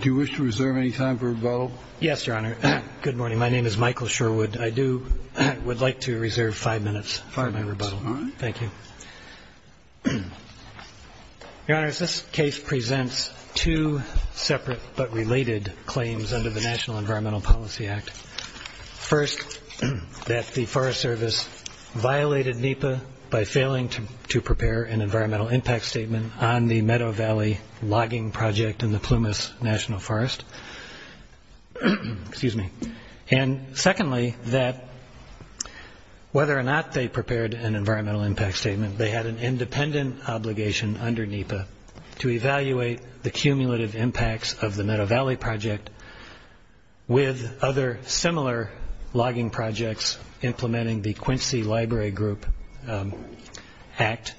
Do you wish to reserve any time for rebuttal? Yes, Your Honor. Good morning. My name is Michael Sherwood. I would like to reserve five minutes for my rebuttal. All right. Thank you. Your Honor, this case presents two separate but related claims under the National Environmental Policy Act. First, that the Forest Service violated NEPA by failing to prepare an environmental impact statement on the Meadow Valley logging project in the Plumas National Forest. And secondly, that whether or not they prepared an environmental impact statement, they had an independent obligation under NEPA to evaluate the cumulative impacts of the Meadow Valley project with other similar logging projects implementing the Quincy Library Group Act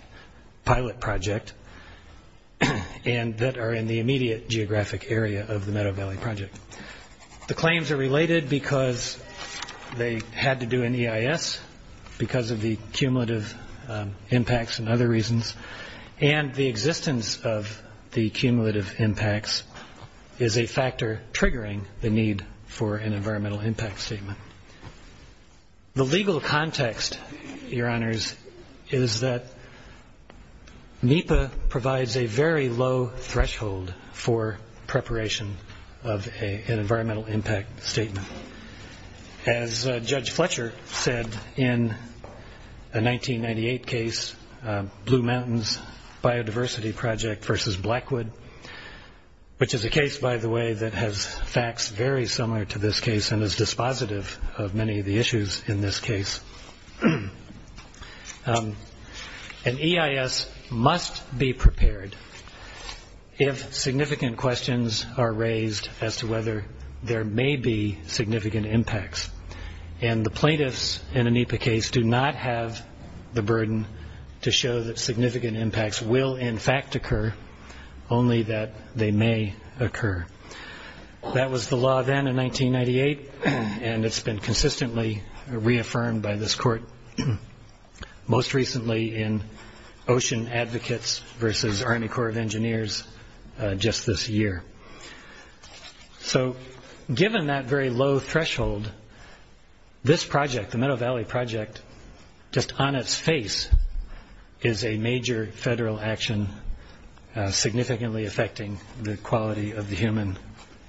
pilot project and that are in the immediate geographic area of the Meadow Valley project. The claims are related because they had to do an EIS because of the cumulative impacts and other reasons and the existence of the cumulative impacts is a factor triggering the need for an environmental impact statement. The legal context, Your Honors, is that NEPA provides a very low threshold for preparation of an environmental impact statement. As Judge Fletcher said in a 1998 case, Blue Mountains Biodiversity Project v. Blackwood, which is a case, by the way, that has facts very similar to this case and is dispositive of many of the issues in this case, an EIS must be prepared if significant questions are raised as to whether there may be significant impacts and the plaintiffs in an NEPA case do not have the burden to show that significant impacts will in fact occur, only that they may occur. That was the law then in 1998 and it's been consistently reaffirmed by this court, most recently in Ocean Advocates v. Army Corps of Engineers just this year. So given that very low threshold, this project, the Meadow Valley project, just on its face is a major federal action significantly affecting the quality of the human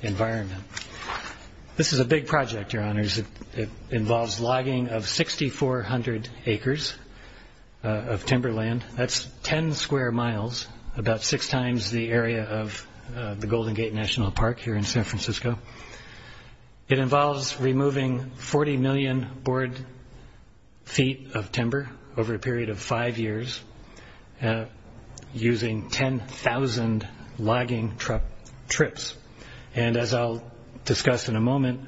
environment. This is a big project, Your Honors. It involves logging of 6,400 acres of timberland. That's 10 square miles, about six times the area of the Golden Gate National Park here in San Francisco. It involves removing 40 million board feet of timber over a period of five years using 10,000 logging trips. And as I'll discuss in a moment,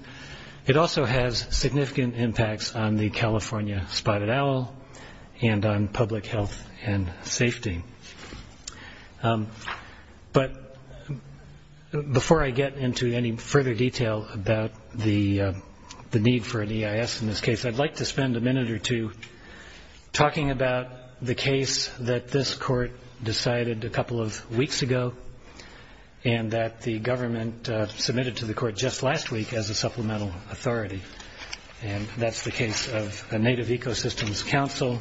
it also has significant impacts on the California Spotted Owl and on public health and safety. But before I get into any further detail about the need for an EIS in this case, I'd like to spend a minute or two talking about the case that this court decided a couple of weeks ago and that the government submitted to the court just last week as a supplemental authority. And that's the case of the Native Ecosystems Council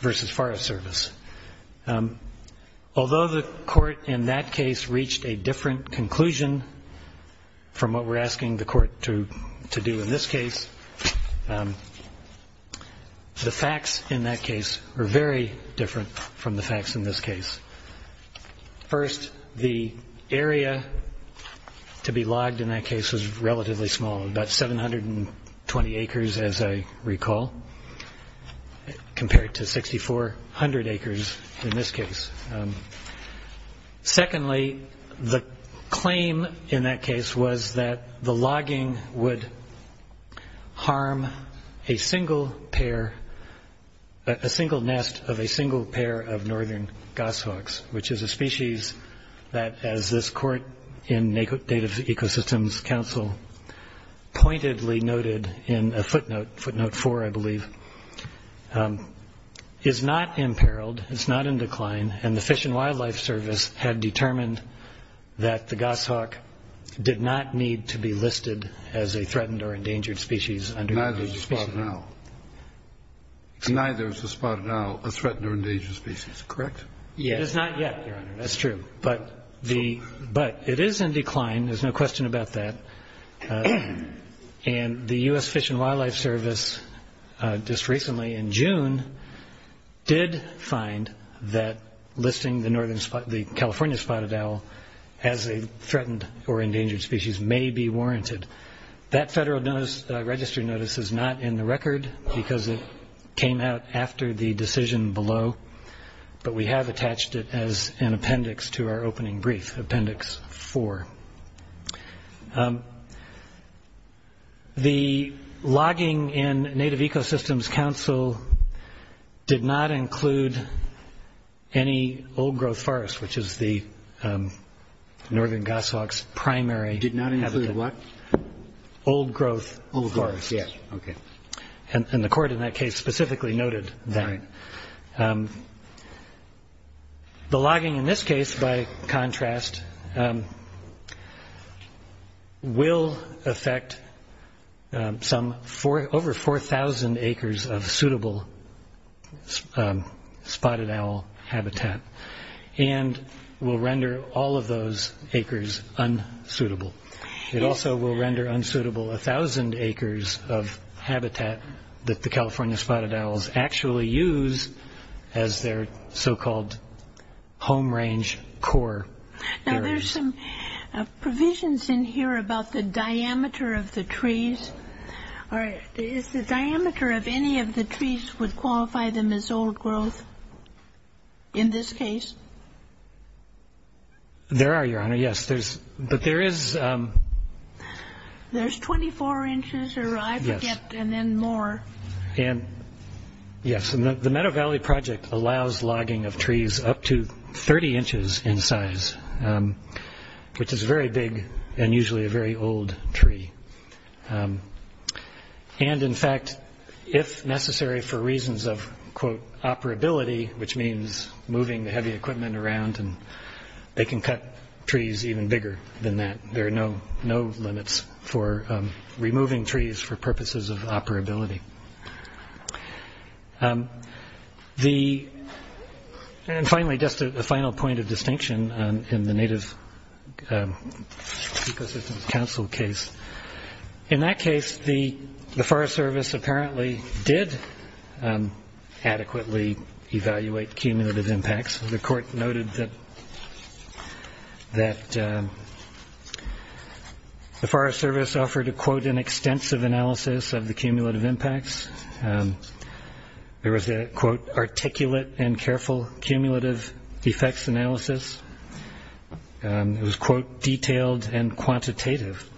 versus Forest Service. Although the court in that case reached a different conclusion from what we're asking the court to do in this case, the facts in that case are very different from the facts in this case. First, the area to be logged in that case was relatively small, about 720 acres as I recall, compared to 6,400 acres in this case. Secondly, the claim in that case was that the logging would harm a single nest of a single pair of northern goshawks, which is a species that, as this court in Native Ecosystems Council pointedly noted in a footnote, footnote four I believe, is not imperiled. It's not in decline. And the Fish and Wildlife Service had determined that the goshawk did not need to be listed as a threatened or endangered species under the endangered species law. And neither is the spotted owl a threatened or endangered species, correct? Yes. It is not yet, Your Honor. That's true. But it is in decline. There's no question about that. And the U.S. Fish and Wildlife Service just recently in June did find that listing the California spotted owl as a threatened or endangered species may be warranted. That Federal Register notice is not in the record because it came out after the decision below, but we have attached it as an appendix to our opening brief, appendix four. The logging in Native Ecosystems Council did not include any old-growth forest, which is the northern goshawk's primary habitat. Did not include what? Old-growth forest. Old-growth, yes. Okay. And the court in that case specifically noted that. All right. The logging in this case, by contrast, will affect some over 4,000 acres of suitable spotted owl habitat and will render all of those acres unsuitable. It also will render unsuitable 1,000 acres of habitat that the California spotted owls actually use as their so-called home range core areas. Now, there's some provisions in here about the diameter of the trees. Is the diameter of any of the trees would qualify them as old-growth in this case? There are, Your Honor, yes. But there is... There's 24 inches or I forget and then more. And, yes, the Meadow Valley Project allows logging of trees up to 30 inches in size, which is very big and usually a very old tree. And, in fact, if necessary for reasons of, quote, operability, which means moving the heavy equipment around, they can cut trees even bigger than that. There are no limits for removing trees for purposes of operability. And, finally, just a final point of distinction in the Native Ecosystems Council case. In that case, the Forest Service apparently did adequately evaluate cumulative impacts. The Court noted that the Forest Service offered, to quote, an extensive analysis of the cumulative impacts. There was a, quote, articulate and careful cumulative effects analysis. It was, quote, detailed and quantitative.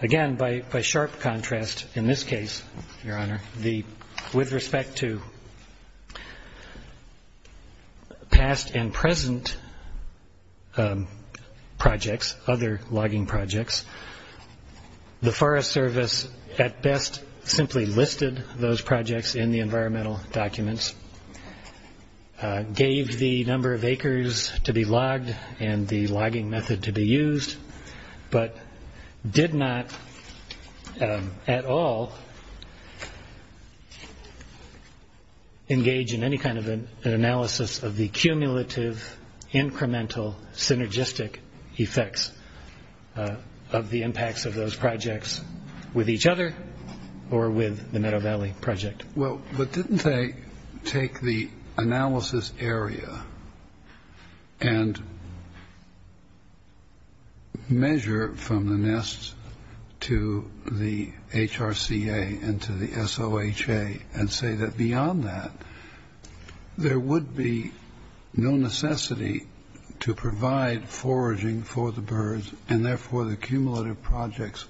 Again, by sharp contrast, in this case, Your Honor, with respect to past and present projects, other logging projects, the Forest Service at best simply listed those projects in the environmental documents, gave the number of acres to be logged and the logging method to be used, but did not at all engage in any kind of an analysis of the cumulative, incremental, synergistic effects of the impacts of those projects with each other or with the Meadow Valley Project. Well, but didn't they take the analysis area and measure from the nests to the HRCA and to the SOHA and say that beyond that, there would be no necessity to provide foraging for the birds and, therefore, the cumulative projects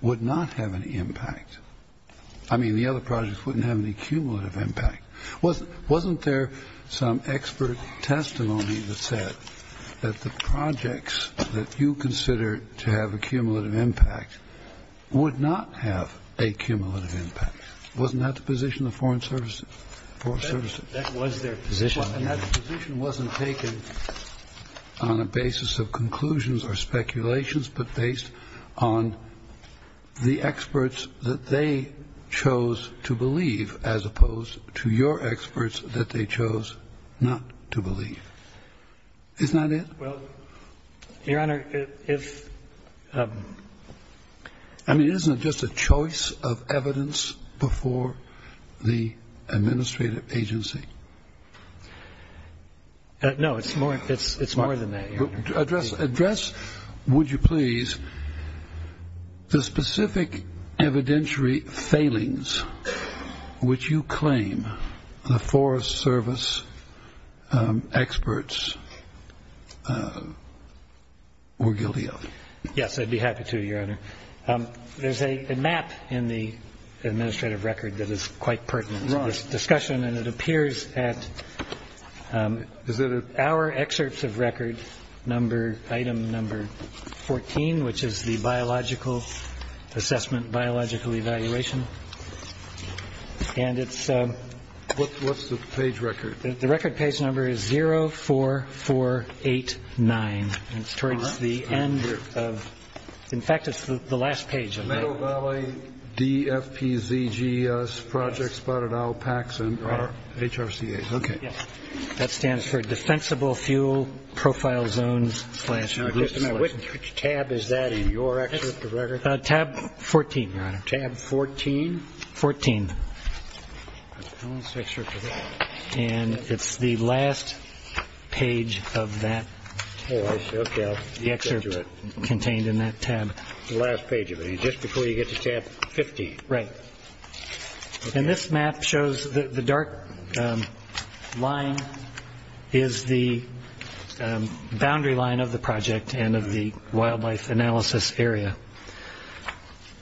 would not have any impact? I mean, the other projects wouldn't have any cumulative impact. Wasn't there some expert testimony that said that the projects that you consider to have a cumulative impact would not have a cumulative impact? Wasn't that the position of the Forest Service? That was their position. And that position wasn't taken on a basis of conclusions or speculations, but based on the experts that they chose to believe as opposed to your experts that they chose not to believe. Isn't that it? Well, Your Honor, if ---- I mean, isn't it just a choice of evidence before the administrative agency? No, it's more than that, Your Honor. Address, would you please, the specific evidentiary failings which you claim the Forest Service experts were guilty of. Yes, I'd be happy to, Your Honor. There's a map in the administrative record that is quite pertinent to this discussion, and it appears at our excerpts of record item number 14, which is the biological assessment, biological evaluation. And it's ---- What's the page record? The record page number is 04489, and it's towards the end of ---- In fact, it's the last page of that. Biovalley, DFPZGS, Project Spotted Alpax, and HRCA. Okay. That stands for Defensible Fuel Profile Zones. Now, just a minute. Which tab is that in your excerpt of record? Tab 14, Your Honor. Tab 14? 14. And it's the last page of that. The excerpt contained in that tab. The last page of it, just before you get to tab 15. Right. And this map shows the dark line is the boundary line of the project and of the wildlife analysis area.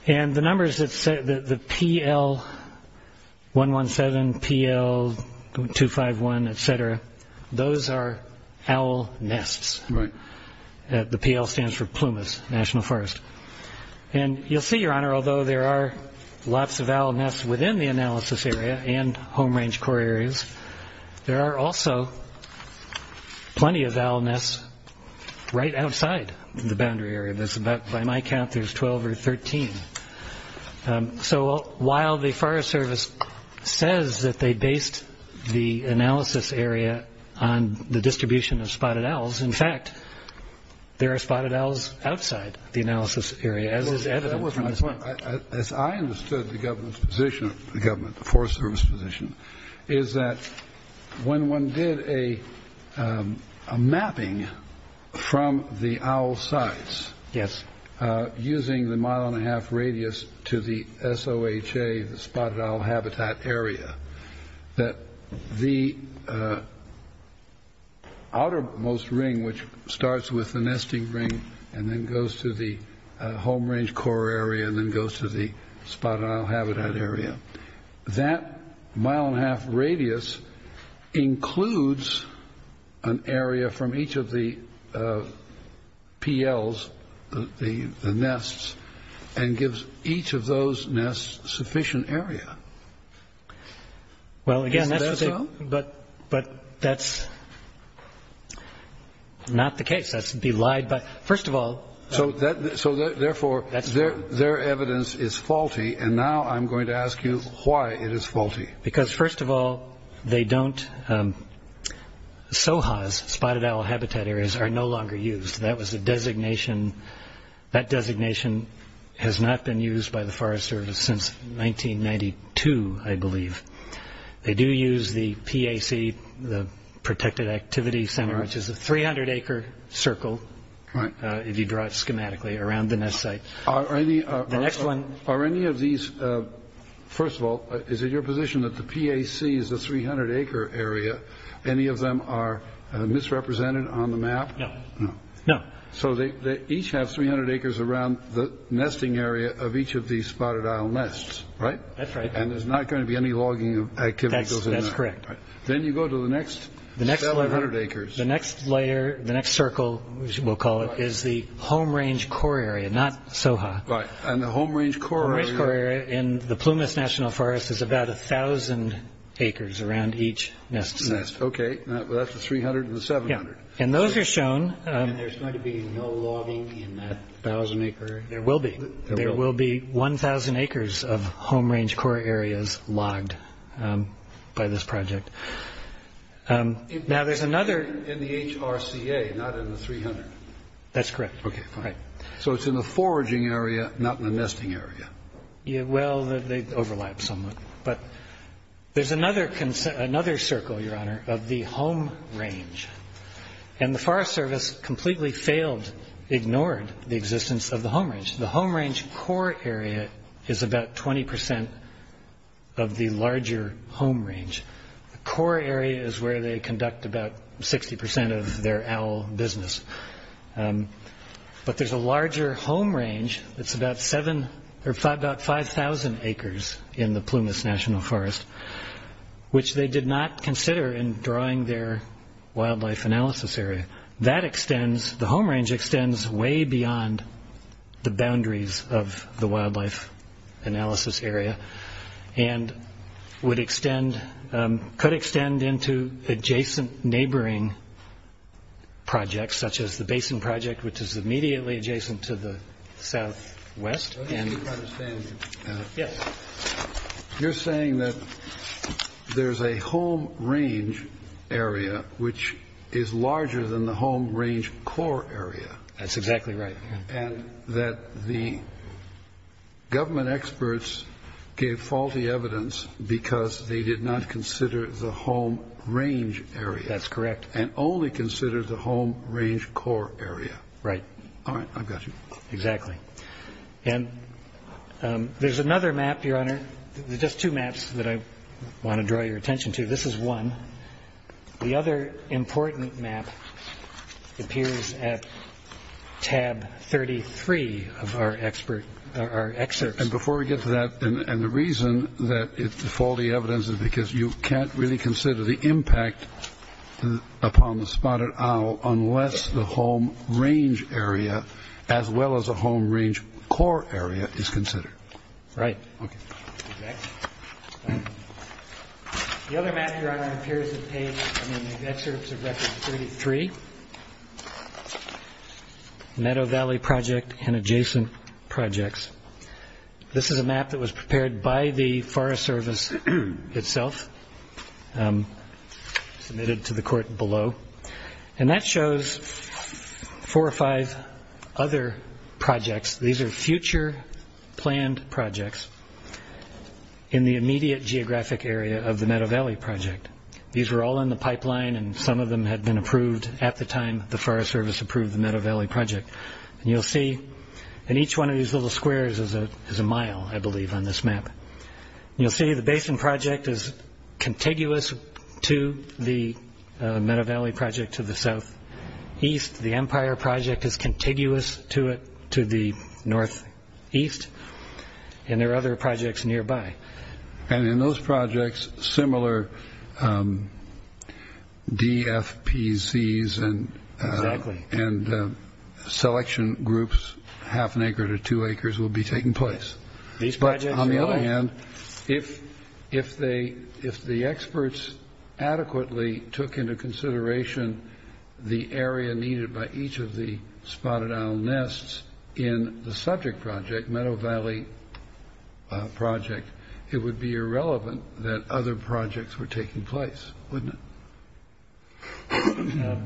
And the numbers that say the PL-117, PL-251, et cetera, those are owl nests. Right. The PL stands for Plumas National Forest. And you'll see, Your Honor, although there are lots of owl nests within the analysis area and home range core areas, there are also plenty of owl nests right outside the boundary area. By my count, there's 12 or 13. So while the Forest Service says that they based the analysis area on the distribution of spotted owls, in fact, there are spotted owls outside the analysis area, as is evident from this map. As I understood the government's position, the government, the Forest Service position, is that when one did a mapping from the owl sites using the mile and a half radius to the SOHA, the spotted owl habitat area, that the outermost ring, which starts with the nesting ring and then goes to the home range core area and then goes to the spotted owl habitat area, that mile and a half radius includes an area from each of the PLs, the nests, and gives each of those nests sufficient area. Is that so? Well, again, that's what they – but that's not the case. That would be lied by – first of all – So therefore, their evidence is faulty, and now I'm going to ask you why it is faulty. Because, first of all, they don't – SOHAs, spotted owl habitat areas, are no longer used. That was the designation. That designation has not been used by the Forest Service since 1992, I believe. They do use the PAC, the Protected Activity Center, which is a 300-acre circle, if you draw it schematically, around the nest site. Are any of these – first of all, is it your position that the PAC is a 300-acre area? Any of them are misrepresented on the map? No. So they each have 300 acres around the nesting area of each of these spotted owl nests, right? That's right. And there's not going to be any logging activity that goes in there. That's correct. Then you go to the next 700 acres. The next layer, the next circle, as we'll call it, is the home range core area, not SOHA. Right, and the home range core area – The home range core area in the Plumas National Forest is about 1,000 acres around each nest site. Okay, that's the 300 and the 700. And those are shown – And there's going to be no logging in that 1,000-acre area? There will be. There will be 1,000 acres of home range core areas logged by this project. Now, there's another – In the HRCA, not in the 300. That's correct. Okay, fine. So it's in the foraging area, not in the nesting area. Well, they overlap somewhat. But there's another circle, Your Honor, of the home range. And the Forest Service completely failed, ignored the existence of the home range. The home range core area is about 20% of the larger home range. The core area is where they conduct about 60% of their owl business. But there's a larger home range that's about 5,000 acres in the Plumas National Forest, which they did not consider in drawing their wildlife analysis area. The home range extends way beyond the boundaries of the wildlife analysis area and would extend – could extend into adjacent neighboring projects, such as the Basin Project, which is immediately adjacent to the southwest. Let me try to understand you. Yes. You're saying that there's a home range area which is larger than the home range core area. That's exactly right. And that the government experts gave faulty evidence because they did not consider the home range area. That's correct. And only considered the home range core area. Right. All right, I've got you. Exactly. And there's another map, Your Honor. There's just two maps that I want to draw your attention to. This is one. The other important map appears at tab 33 of our expert – our excerpts. And before we get to that, and the reason that it's faulty evidence is because you can't really consider the impact upon the spotted owl unless the home range area as well as a home range core area is considered. Right. Okay. Exactly. The other map, Your Honor, appears at page – I mean, the excerpts of record 33, Meadow Valley Project and adjacent projects. This is a map that was prepared by the Forest Service itself, submitted to the court below. And that shows four or five other projects. These are future planned projects in the immediate geographic area of the Meadow Valley Project. These were all in the pipeline, and some of them had been approved at the time the Forest Service approved the Meadow Valley Project. And you'll see in each one of these little squares is a mile, I believe, on this map. You'll see the Basin Project is contiguous to the Meadow Valley Project to the southeast. The Empire Project is contiguous to it to the northeast. And there are other projects nearby. And in those projects, similar DFPCs and selection groups, half an acre to two acres, will be taking place. But on the other hand, if the experts adequately took into consideration the area needed by each of the spotted isle nests in the subject project, Meadow Valley Project, it would be irrelevant that other projects were taking place, wouldn't it?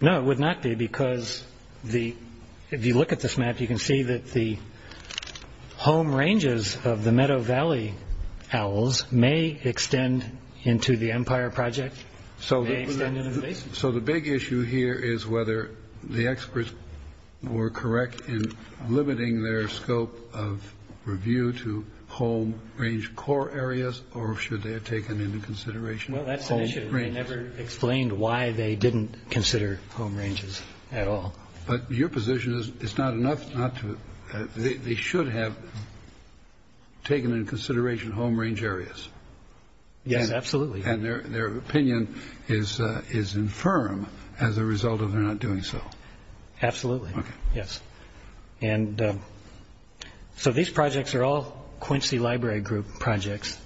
No, it would not be, because if you look at this map, you can see that the home ranges of the Meadow Valley owls may extend into the Empire Project, may extend into the Basin Project. So the big issue here is whether the experts were correct in limiting their scope of review to home range core areas, or should they have taken into consideration home ranges? Well, that's an issue. They never explained why they didn't consider home ranges at all. But your position is it's not enough not to. They should have taken into consideration home range areas. Yes, absolutely. And their opinion is infirm as a result of their not doing so. Absolutely, yes. And so these projects are all Quincy Library Group projects.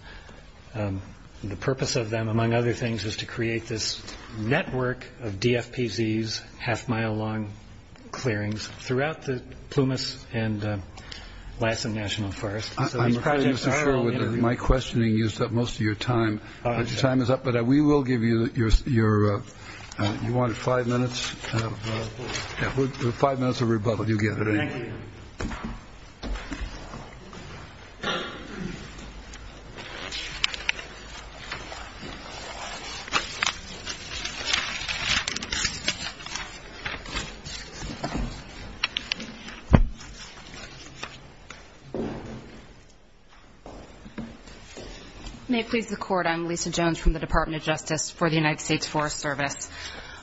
The purpose of them, among other things, was to create this network of DFPZs, half-mile long clearings, throughout the Plumas and Lassen National Forests. I'm not so sure my questioning used up most of your time, but your time is up. But we will give you your five minutes of rebuttal. You get it. Thank you. Thank you. May it please the Court, I'm Lisa Jones from the Department of Justice for the United States Forest Service.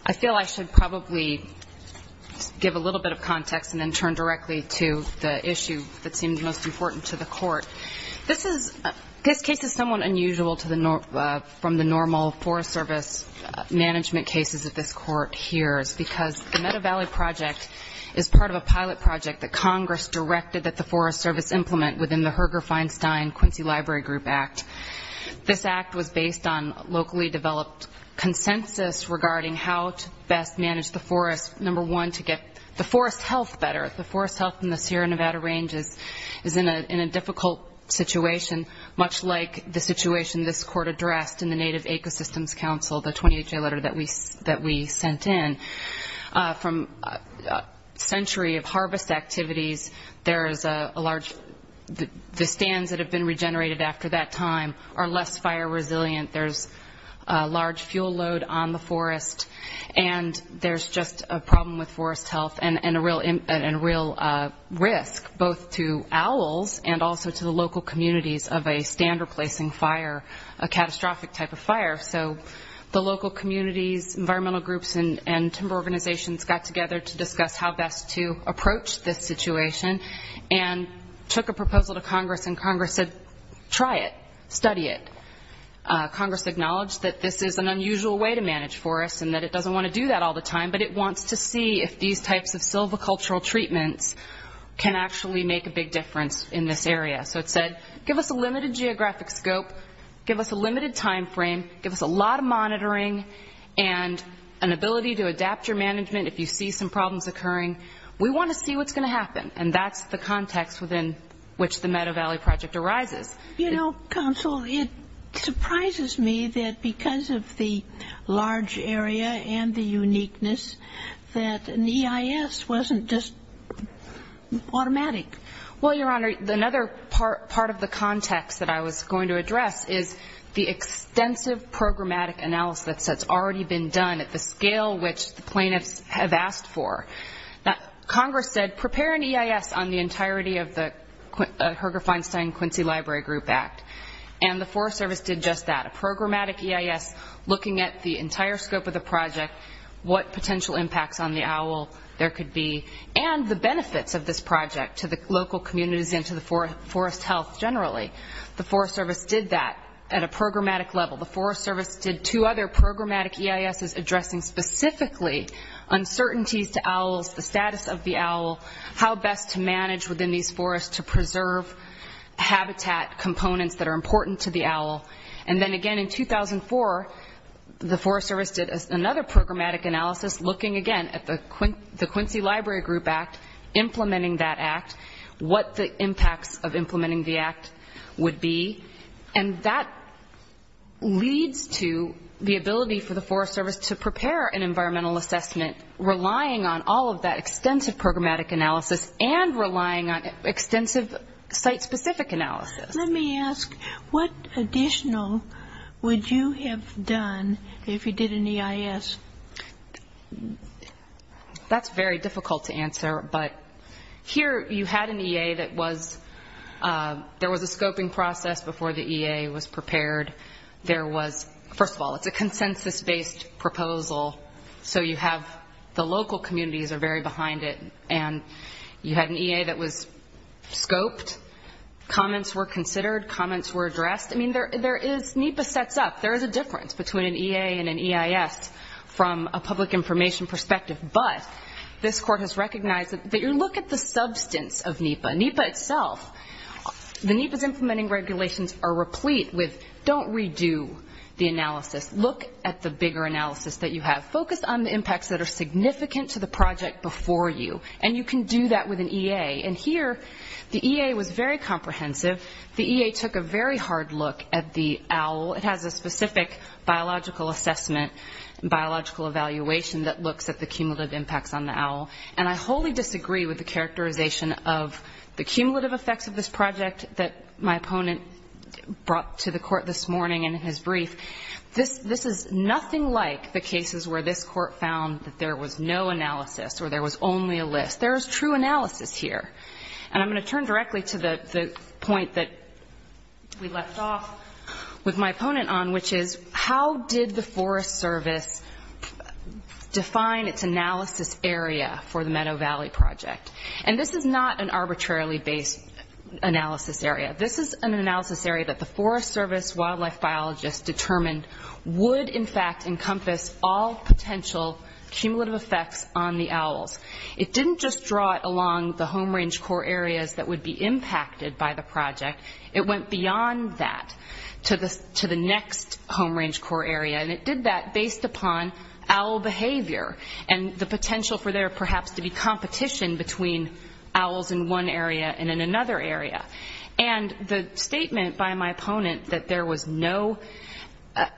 I feel I should probably give a little bit of context and then turn directly to the issue that seems most important to the Court. This case is somewhat unusual from the normal Forest Service management cases that this Court hears because the Meadow Valley project is part of a pilot project that Congress directed that the Forest Service implement within the Herger-Feinstein-Quincy Library Group Act. This act was based on locally developed consensus regarding how to best manage the forest, number one, to get the forest health better. The forest health in the Sierra Nevada range is in a difficult situation, much like the situation this Court addressed in the Native Ecosystems Council, the 28-day letter that we sent in. From a century of harvest activities, the stands that have been regenerated after that time are less fire resilient. There's a large fuel load on the forest, and there's just a problem with forest health and a real risk, both to owls and also to the local communities of a stand-replacing fire, a catastrophic type of fire. So the local communities, environmental groups, and timber organizations got together to discuss how best to approach this situation and took a proposal to Congress, and Congress said, try it, study it. Congress acknowledged that this is an unusual way to manage forests and that it doesn't want to do that all the time, but it wants to see if these types of silvicultural treatments can actually make a big difference in this area. So it said, give us a limited geographic scope, give us a limited time frame, give us a lot of monitoring and an ability to adapt your management if you see some problems occurring. We want to see what's going to happen, and that's the context within which the Meadow Valley Project arises. You know, Counsel, it surprises me that because of the large area and the uniqueness that an EIS wasn't just automatic. Well, Your Honor, another part of the context that I was going to address is the extensive programmatic analysis that's already been done at the scale which the plaintiffs have asked for. Congress said, prepare an EIS on the entirety of the Herger Feinstein and Quincy Library Group Act, and the Forest Service did just that, a programmatic EIS looking at the entire scope of the project, what potential impacts on the owl there could be, and the benefits of this project to the local communities and to the forest health generally. The Forest Service did that at a programmatic level. The Forest Service did two other programmatic EISs addressing specifically uncertainties to owls, the status of the owl, how best to manage within these forests to preserve habitat components that are important to the owl, and then again in 2004, the Forest Service did another programmatic analysis looking again at the Quincy Library Group Act, implementing that act, what the impacts of implementing the act would be, and that leads to the ability for the Forest Service to prepare an environmental assessment relying on all of that extensive programmatic analysis and relying on extensive site-specific analysis. Let me ask, what additional would you have done if you did an EIS? That's very difficult to answer, but here you had an EA that was, there was a scoping process before the EA was prepared. There was, first of all, it's a consensus-based proposal, so you have the local communities are very behind it, and you had an EA that was scoped. Comments were considered. Comments were addressed. I mean, there is, NEPA sets up, there is a difference between an EA and an EIS from a public information perspective, but this court has recognized that you look at the substance of NEPA. NEPA itself, the NEPA's implementing regulations are replete with, don't redo the analysis. Look at the bigger analysis that you have. Focus on the impacts that are significant to the project before you, and you can do that with an EA. And here, the EA was very comprehensive. The EA took a very hard look at the OWL. It has a specific biological assessment, biological evaluation, that looks at the cumulative impacts on the OWL, and I wholly disagree with the characterization of the cumulative effects of this project that my opponent brought to the court this morning in his brief. This is nothing like the cases where this court found that there was no analysis or there was only a list. There is true analysis here, and I'm going to turn directly to the point that we left off with my opponent on, which is how did the Forest Service define its analysis area for the Meadow Valley project? And this is not an arbitrarily based analysis area. This is an analysis area that the Forest Service wildlife biologists determined would, in fact, encompass all potential cumulative effects on the OWLs. It didn't just draw it along the home range core areas that would be impacted by the project. It went beyond that to the next home range core area, and it did that based upon OWL behavior and the potential for there perhaps to be competition between OWLs in one area and in another area. And the statement by my opponent that there was no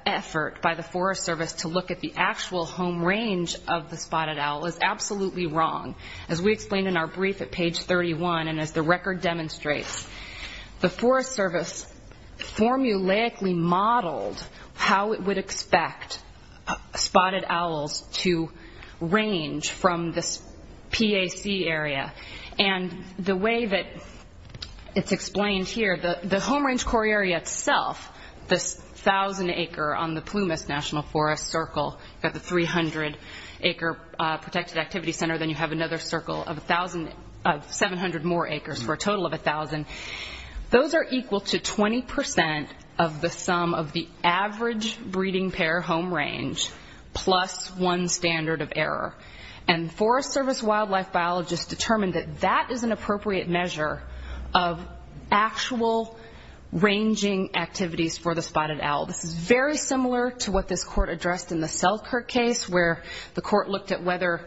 effort by the Forest Service to look at the actual home range of the spotted owl is absolutely wrong. As we explained in our brief at page 31 and as the record demonstrates, the Forest Service formulaically modeled how it would expect spotted OWLs to range from this PAC area. And the way that it's explained here, the home range core area itself, this 1,000-acre on the Plumas National Forest circle, you have the 300-acre protected activity center, then you have another circle of 700 more acres for a total of 1,000. Those are equal to 20% of the sum of the average breeding pair home range plus one standard of error. And Forest Service wildlife biologists determined that that is an appropriate measure of actual ranging activities for the spotted owl. This is very similar to what this court addressed in the Selkirk case, where the court looked at whether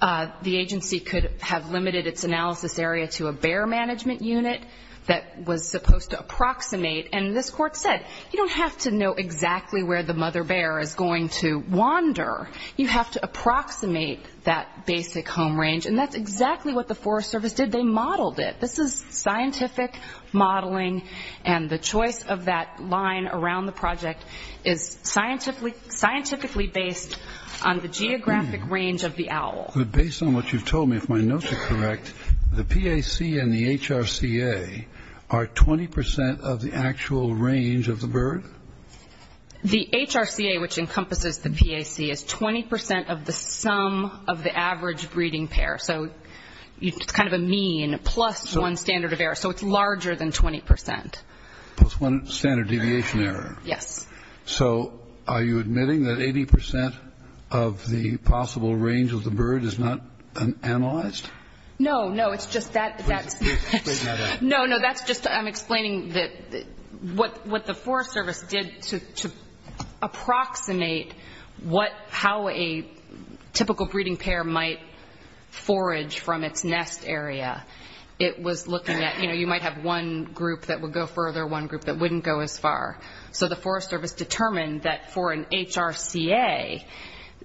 the agency could have limited its analysis area to a bear management unit that was supposed to approximate. And this court said, you don't have to know exactly where the mother bear is going to wander. You have to approximate that basic home range, and that's exactly what the Forest Service did. They modeled it. This is scientific modeling, and the choice of that line around the project is scientifically based on the geographic range of the owl. But based on what you've told me, if my notes are correct, the PAC and the HRCA are 20% of the actual range of the bird? The HRCA, which encompasses the PAC, is 20% of the sum of the average breeding pair. So it's kind of a mean plus one standard of error. So it's larger than 20%. Plus one standard deviation error. Yes. So are you admitting that 80% of the possible range of the bird is not analyzed? No, no. It's just that that's... What the Forest Service did to approximate how a typical breeding pair might forage from its nest area, it was looking at, you know, you might have one group that would go further, one group that wouldn't go as far. So the Forest Service determined that for an HRCA,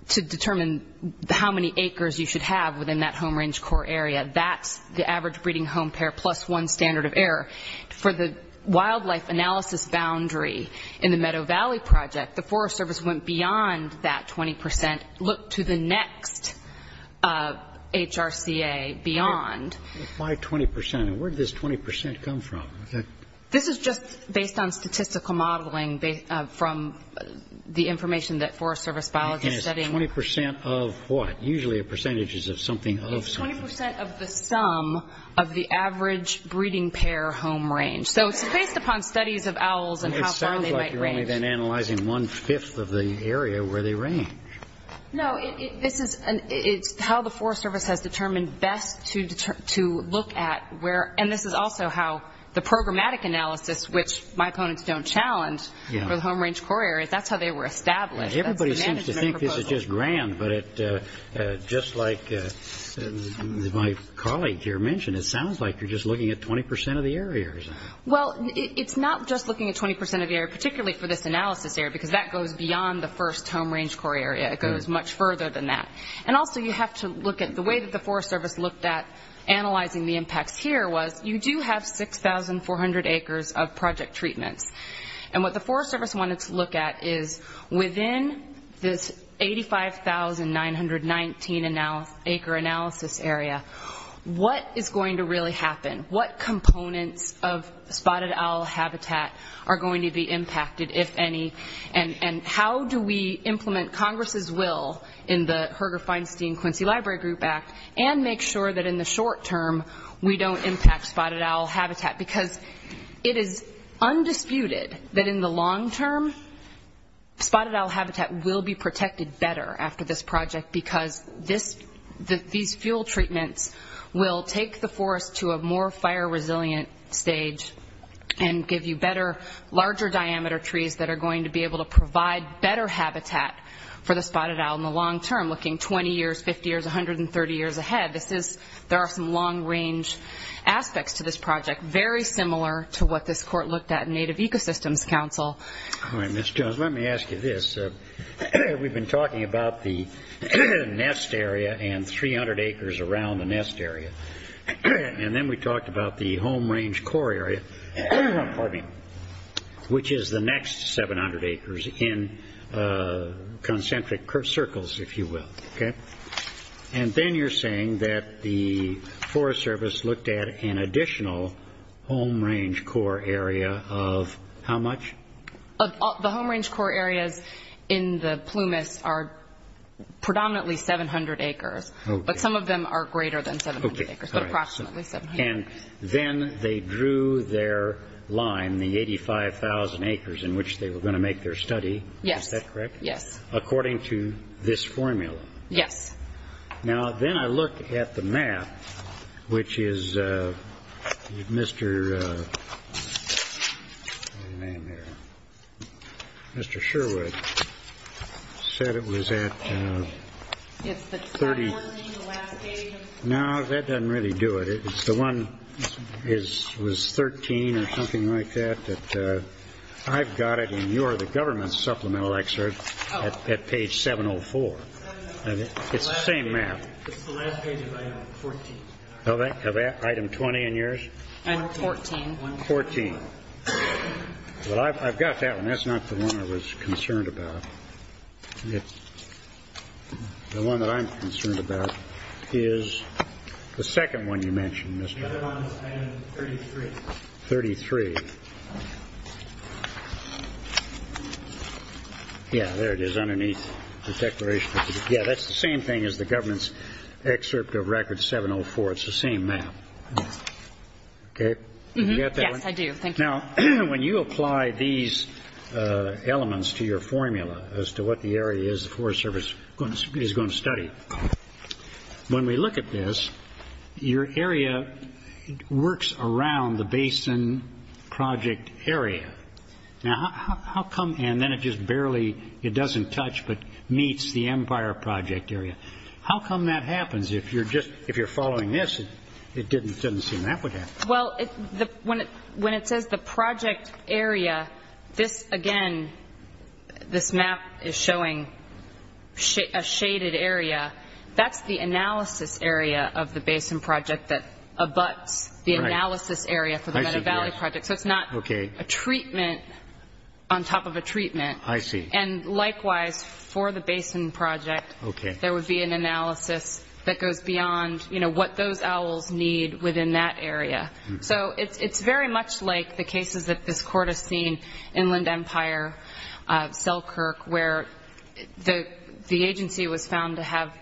to determine how many acres you should have within that home range core area, that's the average breeding home pair plus one standard of error. For the wildlife analysis boundary in the Meadow Valley project, the Forest Service went beyond that 20%, looked to the next HRCA beyond. Why 20%? And where did this 20% come from? This is just based on statistical modeling from the information that Forest Service biologists are studying. And it's 20% of what? Usually a percentage is of something of something. 20% of the sum of the average breeding pair home range. So it's based upon studies of owls and how far they might range. It sounds like you're only then analyzing one-fifth of the area where they range. No, this is how the Forest Service has determined best to look at where, and this is also how the programmatic analysis, which my opponents don't challenge, for the home range core areas, that's how they were established. Everybody seems to think this is just grand, but just like my colleague here mentioned, it sounds like you're just looking at 20% of the areas. Well, it's not just looking at 20% of the area, particularly for this analysis area, because that goes beyond the first home range core area. It goes much further than that. And also you have to look at the way that the Forest Service looked at analyzing the impacts here was you do have 6,400 acres of project treatments. And what the Forest Service wanted to look at is within this 85,919 acre analysis area, what is going to really happen? What components of spotted owl habitat are going to be impacted, if any? And how do we implement Congress's will in the Herger Feinstein Quincy Library Group Act and make sure that in the short term we don't impact spotted owl habitat? Because it is undisputed that in the long term, spotted owl habitat will be protected better after this project, because these fuel treatments will take the forest to a more fire-resilient stage and give you larger diameter trees that are going to be able to provide better habitat for the spotted owl in the long term, looking 20 years, 50 years, 130 years ahead. There are some long-range aspects to this project, very similar to what this court looked at in Native Ecosystems Council. All right, Ms. Jones, let me ask you this. We've been talking about the nest area and 300 acres around the nest area. And then we talked about the home range core area, which is the next 700 acres in concentric circles, if you will. Okay. And then you're saying that the Forest Service looked at an additional home range core area of how much? The home range core areas in the plumas are predominantly 700 acres, but some of them are greater than 700 acres, but approximately 700. And then they drew their line, the 85,000 acres in which they were going to make their study. Yes. Is that correct? Yes. According to this formula? Yes. Now, then I look at the map, which is Mr. Sherwood said it was at 30. Yes, the top one in the last page. No, that doesn't really do it. It's the one that was 13 or something like that. I've got it in your, the government's supplemental excerpt at page 704. It's the same map. It's the last page of item 14. Of item 20 in yours? Item 14. 14. Well, I've got that one. That's not the one I was concerned about. The one that I'm concerned about is the second one you mentioned, Mr. The other one is item 33. Yeah, there it is underneath the declaration. Yeah, that's the same thing as the government's excerpt of record 704. It's the same map. Okay? Yes, I do. Thank you. Now, when you apply these elements to your formula as to what the area is the Forest Your area works around the basin project area. Now, how come, and then it just barely, it doesn't touch but meets the Empire Project area. How come that happens? If you're just, if you're following this, it didn't seem that would happen. Well, when it says the project area, this, again, this map is showing a shaded area. That's the analysis area of the basin project that abuts the analysis area for the Meta Valley Project. So it's not a treatment on top of a treatment. I see. And likewise, for the basin project, there would be an analysis that goes beyond, you know, what those owls need within that area. So it's very much like the cases that this court has seen, Inland Empire, Selkirk, where the agency was found to have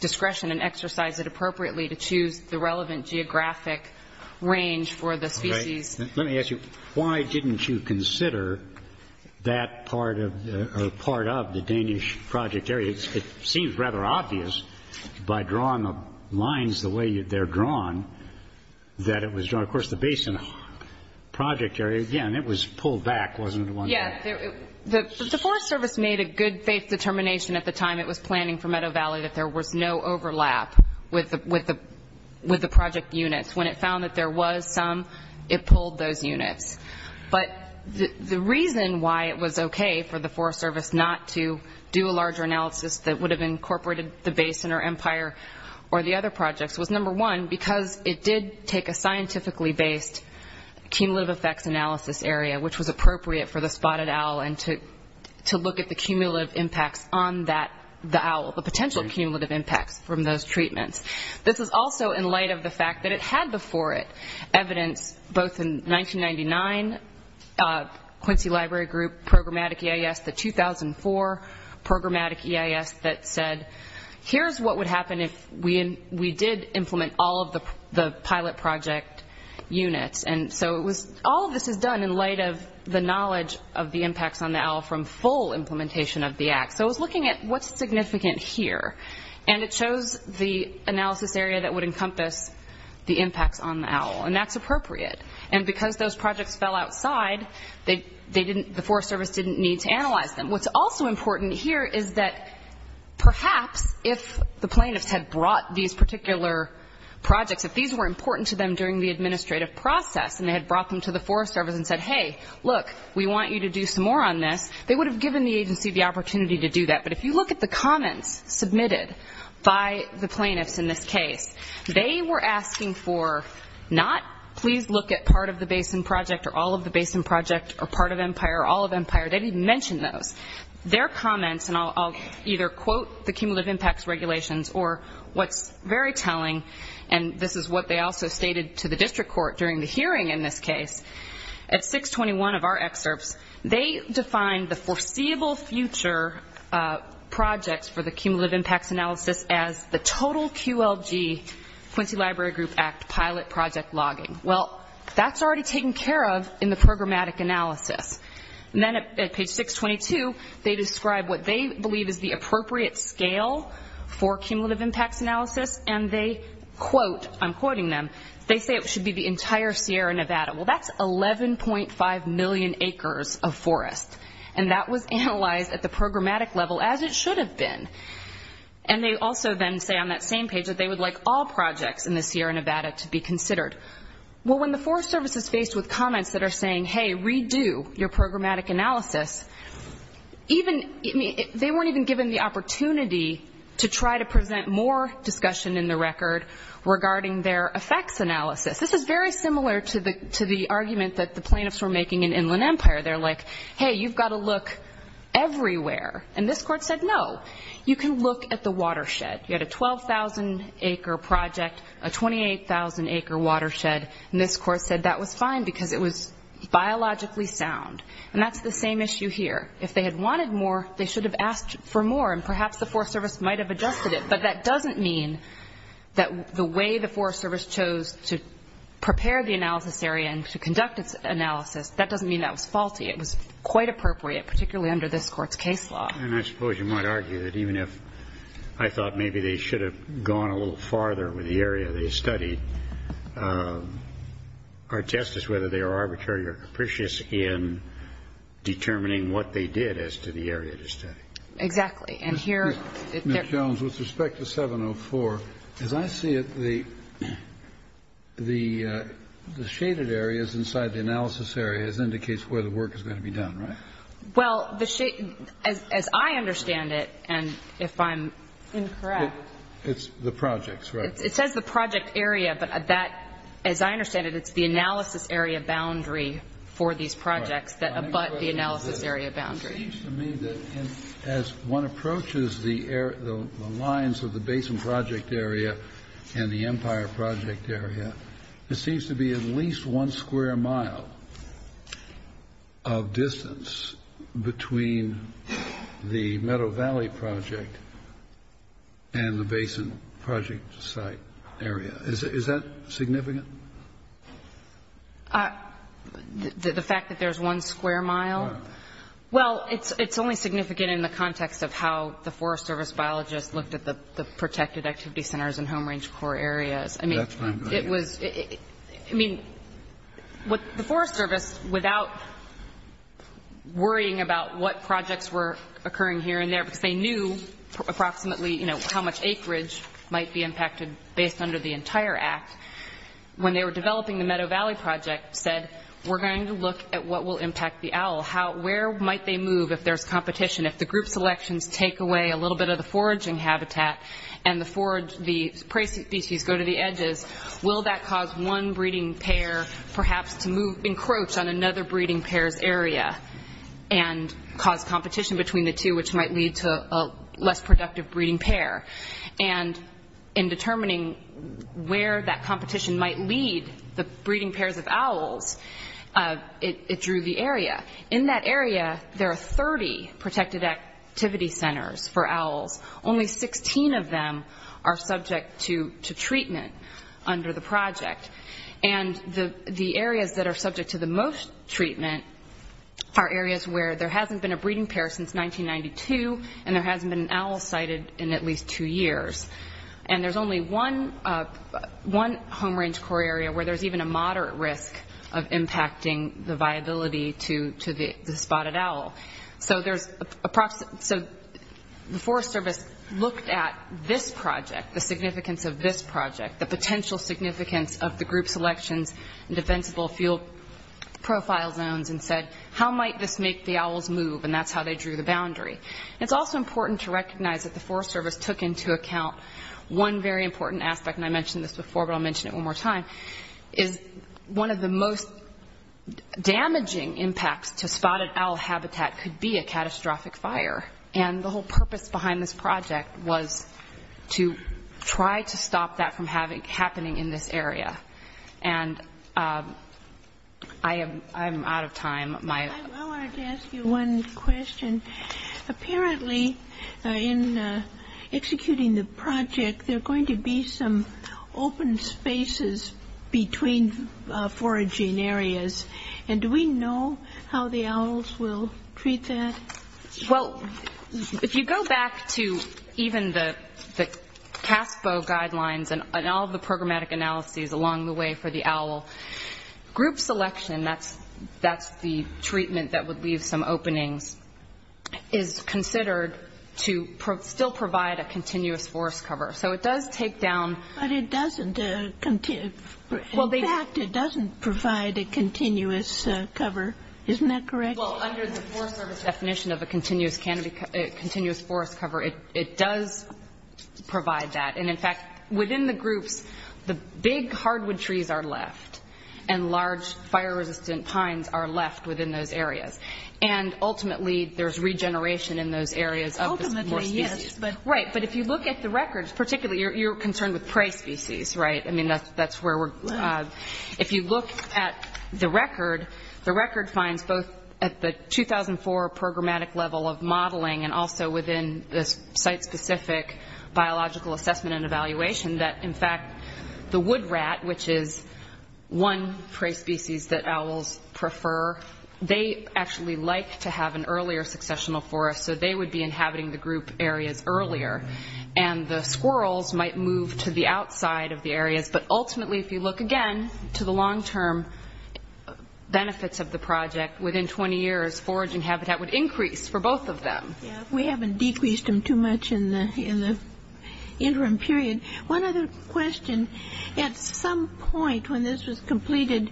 discretion and exercise it appropriately to choose the relevant geographic range for the species. Let me ask you, why didn't you consider that part of the Danish project area? It seems rather obvious by drawing the lines the way they're drawn that it was drawn. Of course, the basin project area, again, it was pulled back, wasn't it, one day? The Forest Service made a good faith determination at the time it was planning for Meadow Valley that there was no overlap with the project units. When it found that there was some, it pulled those units. But the reason why it was okay for the Forest Service not to do a larger analysis that would have incorporated the basin or empire or the other projects was, number one, because it did take a scientifically based cumulative effects analysis area, which was appropriate for the spotted owl and to look at the cumulative impacts on the owl, the potential cumulative impacts from those treatments. This was also in light of the fact that it had before it evidence, both in 1999, Quincy Library Group, Programmatic EIS, the 2004 Programmatic EIS that said, here's what would happen if we did implement all of the pilot project units. And so all of this is done in light of the knowledge of the impacts on the owl from full implementation of the Act. So it was looking at what's significant here, and it chose the analysis area that would encompass the impacts on the owl, and that's appropriate. And because those projects fell outside, the Forest Service didn't need to analyze them. What's also important here is that perhaps if the plaintiffs had brought these particular projects, if these were important to them during the administrative process, and they had brought them to the Forest Service and said, hey, look, we want you to do some more on this, they would have given the agency the opportunity to do that. But if you look at the comments submitted by the plaintiffs in this case, they were asking for not please look at part of the basin project or all of the basin project or part of empire or all of empire. They didn't even mention those. Their comments, and I'll either quote the cumulative impacts regulations or what's very telling, and this is what they also stated to the district court during the hearing in this case. At 621 of our excerpts, they defined the foreseeable future projects for the cumulative impacts analysis as the total QLG, Quincy Library Group Act, pilot project logging. Well, that's already taken care of in the programmatic analysis. And then at page 622, they describe what they believe is the appropriate scale for cumulative impacts analysis, and they quote, I'm quoting them, they say it should be the entire Sierra Nevada. Well, that's 11.5 million acres of forest, and that was analyzed at the programmatic level as it should have been. And they also then say on that same page that they would like all projects in the Sierra Nevada to be considered. Well, when the Forest Service is faced with comments that are saying, hey, redo your programmatic analysis, they weren't even given the opportunity to try to present more discussion in the record regarding their effects analysis. This is very similar to the argument that the plaintiffs were making in Inland Empire. They're like, hey, you've got to look everywhere. And this court said, no, you can look at the watershed. You had a 12,000-acre project, a 28,000-acre watershed, and this court said that was fine because it was biologically sound. And that's the same issue here. If they had wanted more, they should have asked for more, and perhaps the Forest Service might have adjusted it. But that doesn't mean that the way the Forest Service chose to prepare the analysis area and to conduct its analysis, that doesn't mean that was faulty. It was quite appropriate, particularly under this court's case law. And I suppose you might argue that even if I thought maybe they should have gone a little farther with the area they studied, our test is whether they are arbitrary or capricious in determining what they did as to the area they studied. Exactly. And here they're ---- Ms. Jones, with respect to 704, as I see it, the shaded areas inside the analysis areas indicates where the work is going to be done, right? Well, the ---- as I understand it, and if I'm incorrect ---- It's the projects, right? It says the project area, but that, as I understand it, it's the analysis area boundary for these projects that abut the analysis area boundary. It seems to me that as one approaches the lines of the Basin Project area and the Empire Project area, it seems to be at least one square mile of distance between the Meadow Valley Project and the Basin Project site area. Is that significant? The fact that there's one square mile? Well, it's only significant in the context of how the Forest Service biologists looked at the protected activity centers and home range core areas. I mean, it was ---- I mean, the Forest Service, without worrying about what projects were occurring here and there, because they knew approximately, you know, how much acreage might be impacted based under the entire act, when they were developing the Meadow Valley Project, said, we're going to look at what will impact the OWL, where might they move if there's competition, if the group selections take away a little bit of the foraging habitat and the prey species go to the edges, will that cause one breeding pair perhaps to move, encroach on another breeding pair's area and cause competition between the two, which might lead to a less productive breeding pair? And in determining where that competition might lead the breeding pairs of OWLs, it drew the area. In that area, there are 30 protected activity centers for OWLs. Only 16 of them are subject to treatment under the project. And the areas that are subject to the most treatment are areas where there hasn't been a breeding pair since 1992, and there hasn't been an OWL sighted in at least two years. And there's only one home range core area where there's even a moderate risk of impacting the viability to the spotted OWL. So the Forest Service looked at this project, the significance of this project, the potential significance of the group selections and defensible field profile zones and said, how might this make the OWLs move? And that's how they drew the boundary. It's also important to recognize that the Forest Service took into account one very important aspect, and I mentioned this before, but I'll mention it one more time, is one of the most damaging impacts to spotted OWL habitat could be a catastrophic fire. And the whole purpose behind this project was to try to stop that from happening in this area. And I am out of time. I wanted to ask you one question. Apparently, in executing the project, there are going to be some open spaces between foraging areas, and do we know how the OWLs will treat that? Well, if you go back to even the CASPO guidelines and all of the programmatic analyses along the way for the OWL, group selection, that's the treatment that would leave some openings, is considered to still provide a continuous forest cover. So it does take down. But it doesn't. In fact, it doesn't provide a continuous cover. Isn't that correct? Well, under the Forest Service definition of a continuous forest cover, it does provide that. And in fact, within the groups, the big hardwood trees are left, and large fire-resistant pines are left within those areas. And ultimately, there's regeneration in those areas of the species. Ultimately, yes. Right. But if you look at the records, particularly you're concerned with prey species, right? I mean, that's where we're going. If you look at the record, the record finds both at the 2004 programmatic level of modeling and also within the site-specific biological assessment and evaluation that, in fact, the wood rat, which is one prey species that owls prefer, they actually like to have an earlier successional forest, so they would be inhabiting the group areas earlier. And the squirrels might move to the outside of the areas. But ultimately, if you look again to the long-term benefits of the project, within 20 years, foraging habitat would increase for both of them. Yes. We haven't decreased them too much in the interim period. One other question. At some point when this was completed,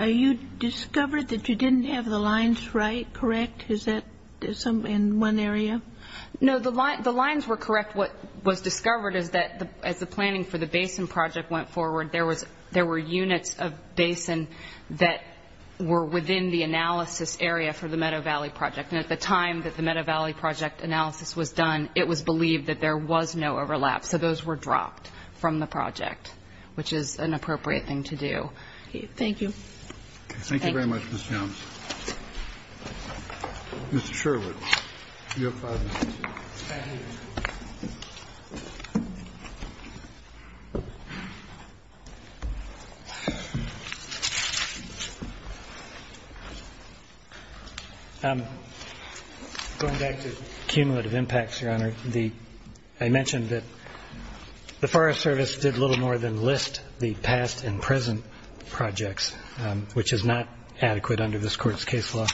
you discovered that you didn't have the lines right, correct? Is that in one area? No, the lines were correct. What was discovered is that as the planning for the basin project went forward, there were units of basin that were within the analysis area for the Meadow Valley project. And at the time that the Meadow Valley project analysis was done, it was believed that there was no overlap. So those were dropped from the project, which is an appropriate thing to do. Thank you. Thank you very much, Ms. Jones. Mr. Sherwood, you have five minutes. Going back to cumulative impacts, Your Honor, I mentioned that the Forest Service did little more than list the past and present projects, which is not adequate under this Court's case law.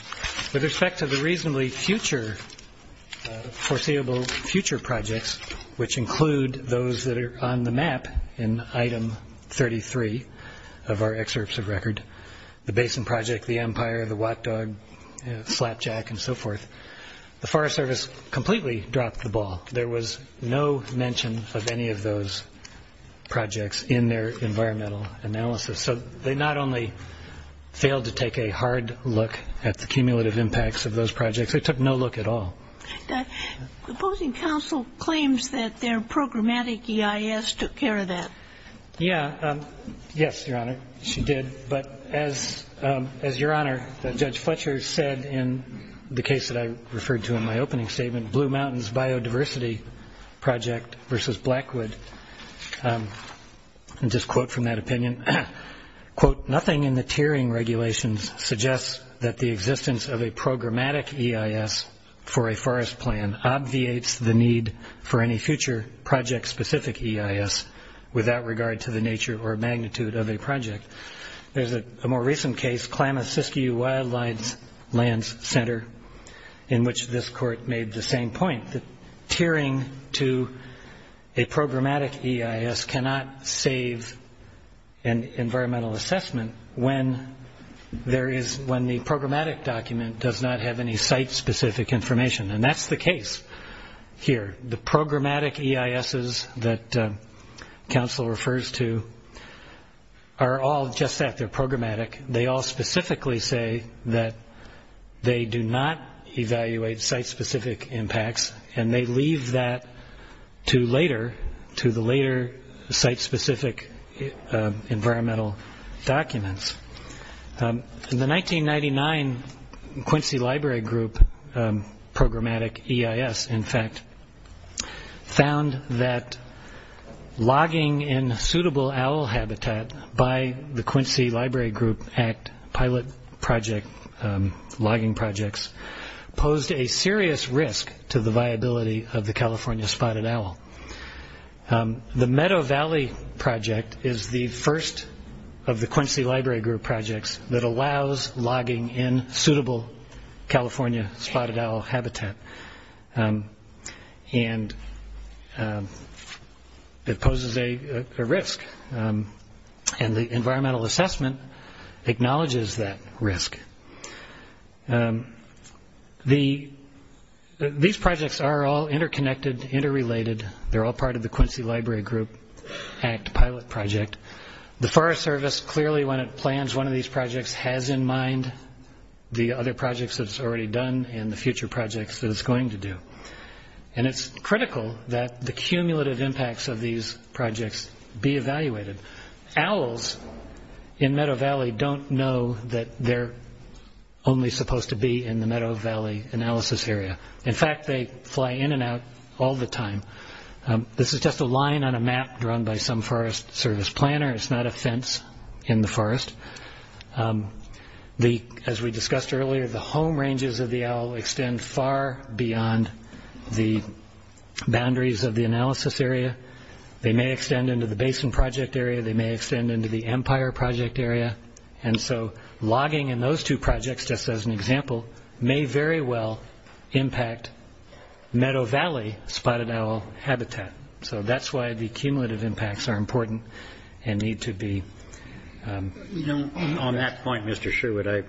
With respect to the reasonably foreseeable future projects, which include those that are on the map in Item 33 of our excerpts of record, the basin project, the empire, the watt dog, slapjack, and so forth, the Forest Service completely dropped the ball. There was no mention of any of those projects in their environmental analysis. So they not only failed to take a hard look at the cumulative impacts of those projects, they took no look at all. The opposing counsel claims that their programmatic EIS took care of that. Yes, Your Honor, she did. But as Your Honor, Judge Fletcher said in the case that I referred to in my opening statement, Blue Mountains Biodiversity Project versus Blackwood, and just quote from that opinion, quote, nothing in the tiering regulations suggests that the existence of a programmatic EIS for a forest plan obviates the need for any future project-specific EIS without regard to the nature or magnitude of a project. There's a more recent case, Klamath-Siskiyou Wildlife Lands Center, in which this Court made the same point, that tiering to a programmatic EIS cannot save an environmental assessment when the programmatic document does not have any site-specific information. And that's the case here. The programmatic EISs that counsel refers to are all just that, they're programmatic. They all specifically say that they do not evaluate site-specific impacts, and they leave that to later, to the later site-specific environmental documents. In the 1999 Quincy Library Group programmatic EIS, in fact, found that logging in suitable owl habitat by the Quincy Library Group Act pilot project, logging projects, posed a serious risk to the viability of the California spotted owl. The Meadow Valley project is the first of the Quincy Library Group projects that allows logging in suitable California spotted owl habitat. It poses a risk, and the environmental assessment acknowledges that risk. These projects are all interconnected, interrelated. They're all part of the Quincy Library Group Act pilot project. The Forest Service clearly, when it plans one of these projects, has in mind the other projects that it's already done and the future projects that it's going to do. And it's critical that the cumulative impacts of these projects be evaluated. Owls in Meadow Valley don't know that they're only supposed to be in the Meadow Valley analysis area. In fact, they fly in and out all the time. This is just a line on a map drawn by some Forest Service planner. It's not a fence in the forest. As we discussed earlier, the home ranges of the owl extend far beyond the boundaries of the analysis area. They may extend into the basin project area. They may extend into the empire project area. And so logging in those two projects, just as an example, may very well impact Meadow Valley spotted owl habitat. So that's why the cumulative impacts are important and need to be... On that point, Mr. Sherwood, I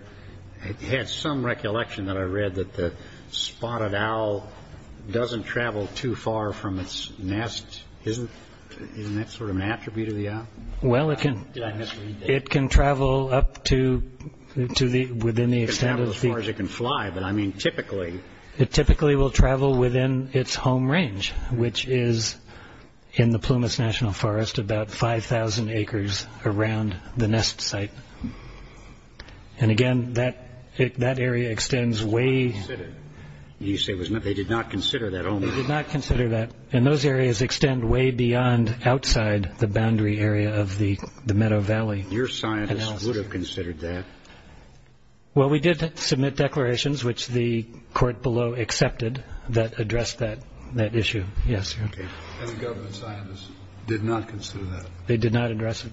had some recollection that I read that the spotted owl doesn't travel too far from its nest. Isn't that sort of an attribute of the owl? Well, it can travel up to within the extent of... It can travel as far as it can fly, but I mean typically... It typically will travel within its home range, which is in the Plumas National Forest about 5,000 acres around the nest site. And again, that area extends way... You say they did not consider that only? They did not consider that. And those areas extend way beyond outside the boundary area of the Meadow Valley analysis. Your scientists would have considered that. Well, we did submit declarations, which the court below accepted, that addressed that issue. Yes, sir. And the government scientists did not consider that? They did not address it.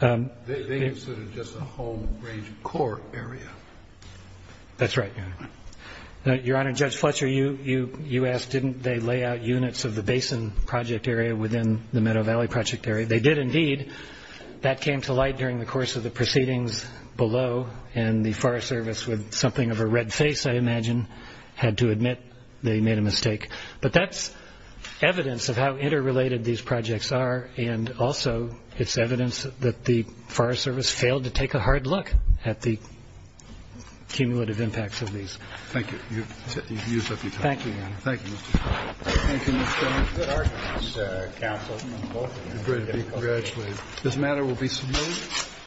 They considered just a home range core area. That's right, Your Honor. Your Honor, Judge Fletcher, you asked, didn't they lay out units of the basin project area within the Meadow Valley project area? They did indeed. That came to light during the course of the proceedings below, and the Forest Service, with something of a red face, I imagine, had to admit they made a mistake. But that's evidence of how interrelated these projects are and also it's evidence that the Forest Service failed to take a hard look at the cumulative impacts of these. Thank you. You've used up your time. Thank you, Your Honor. Thank you, Mr. Chairman. Thank you, Mr. Chairman. Good arguments, counsel, from both of you. It's great to be congratulated. This matter will be submitted.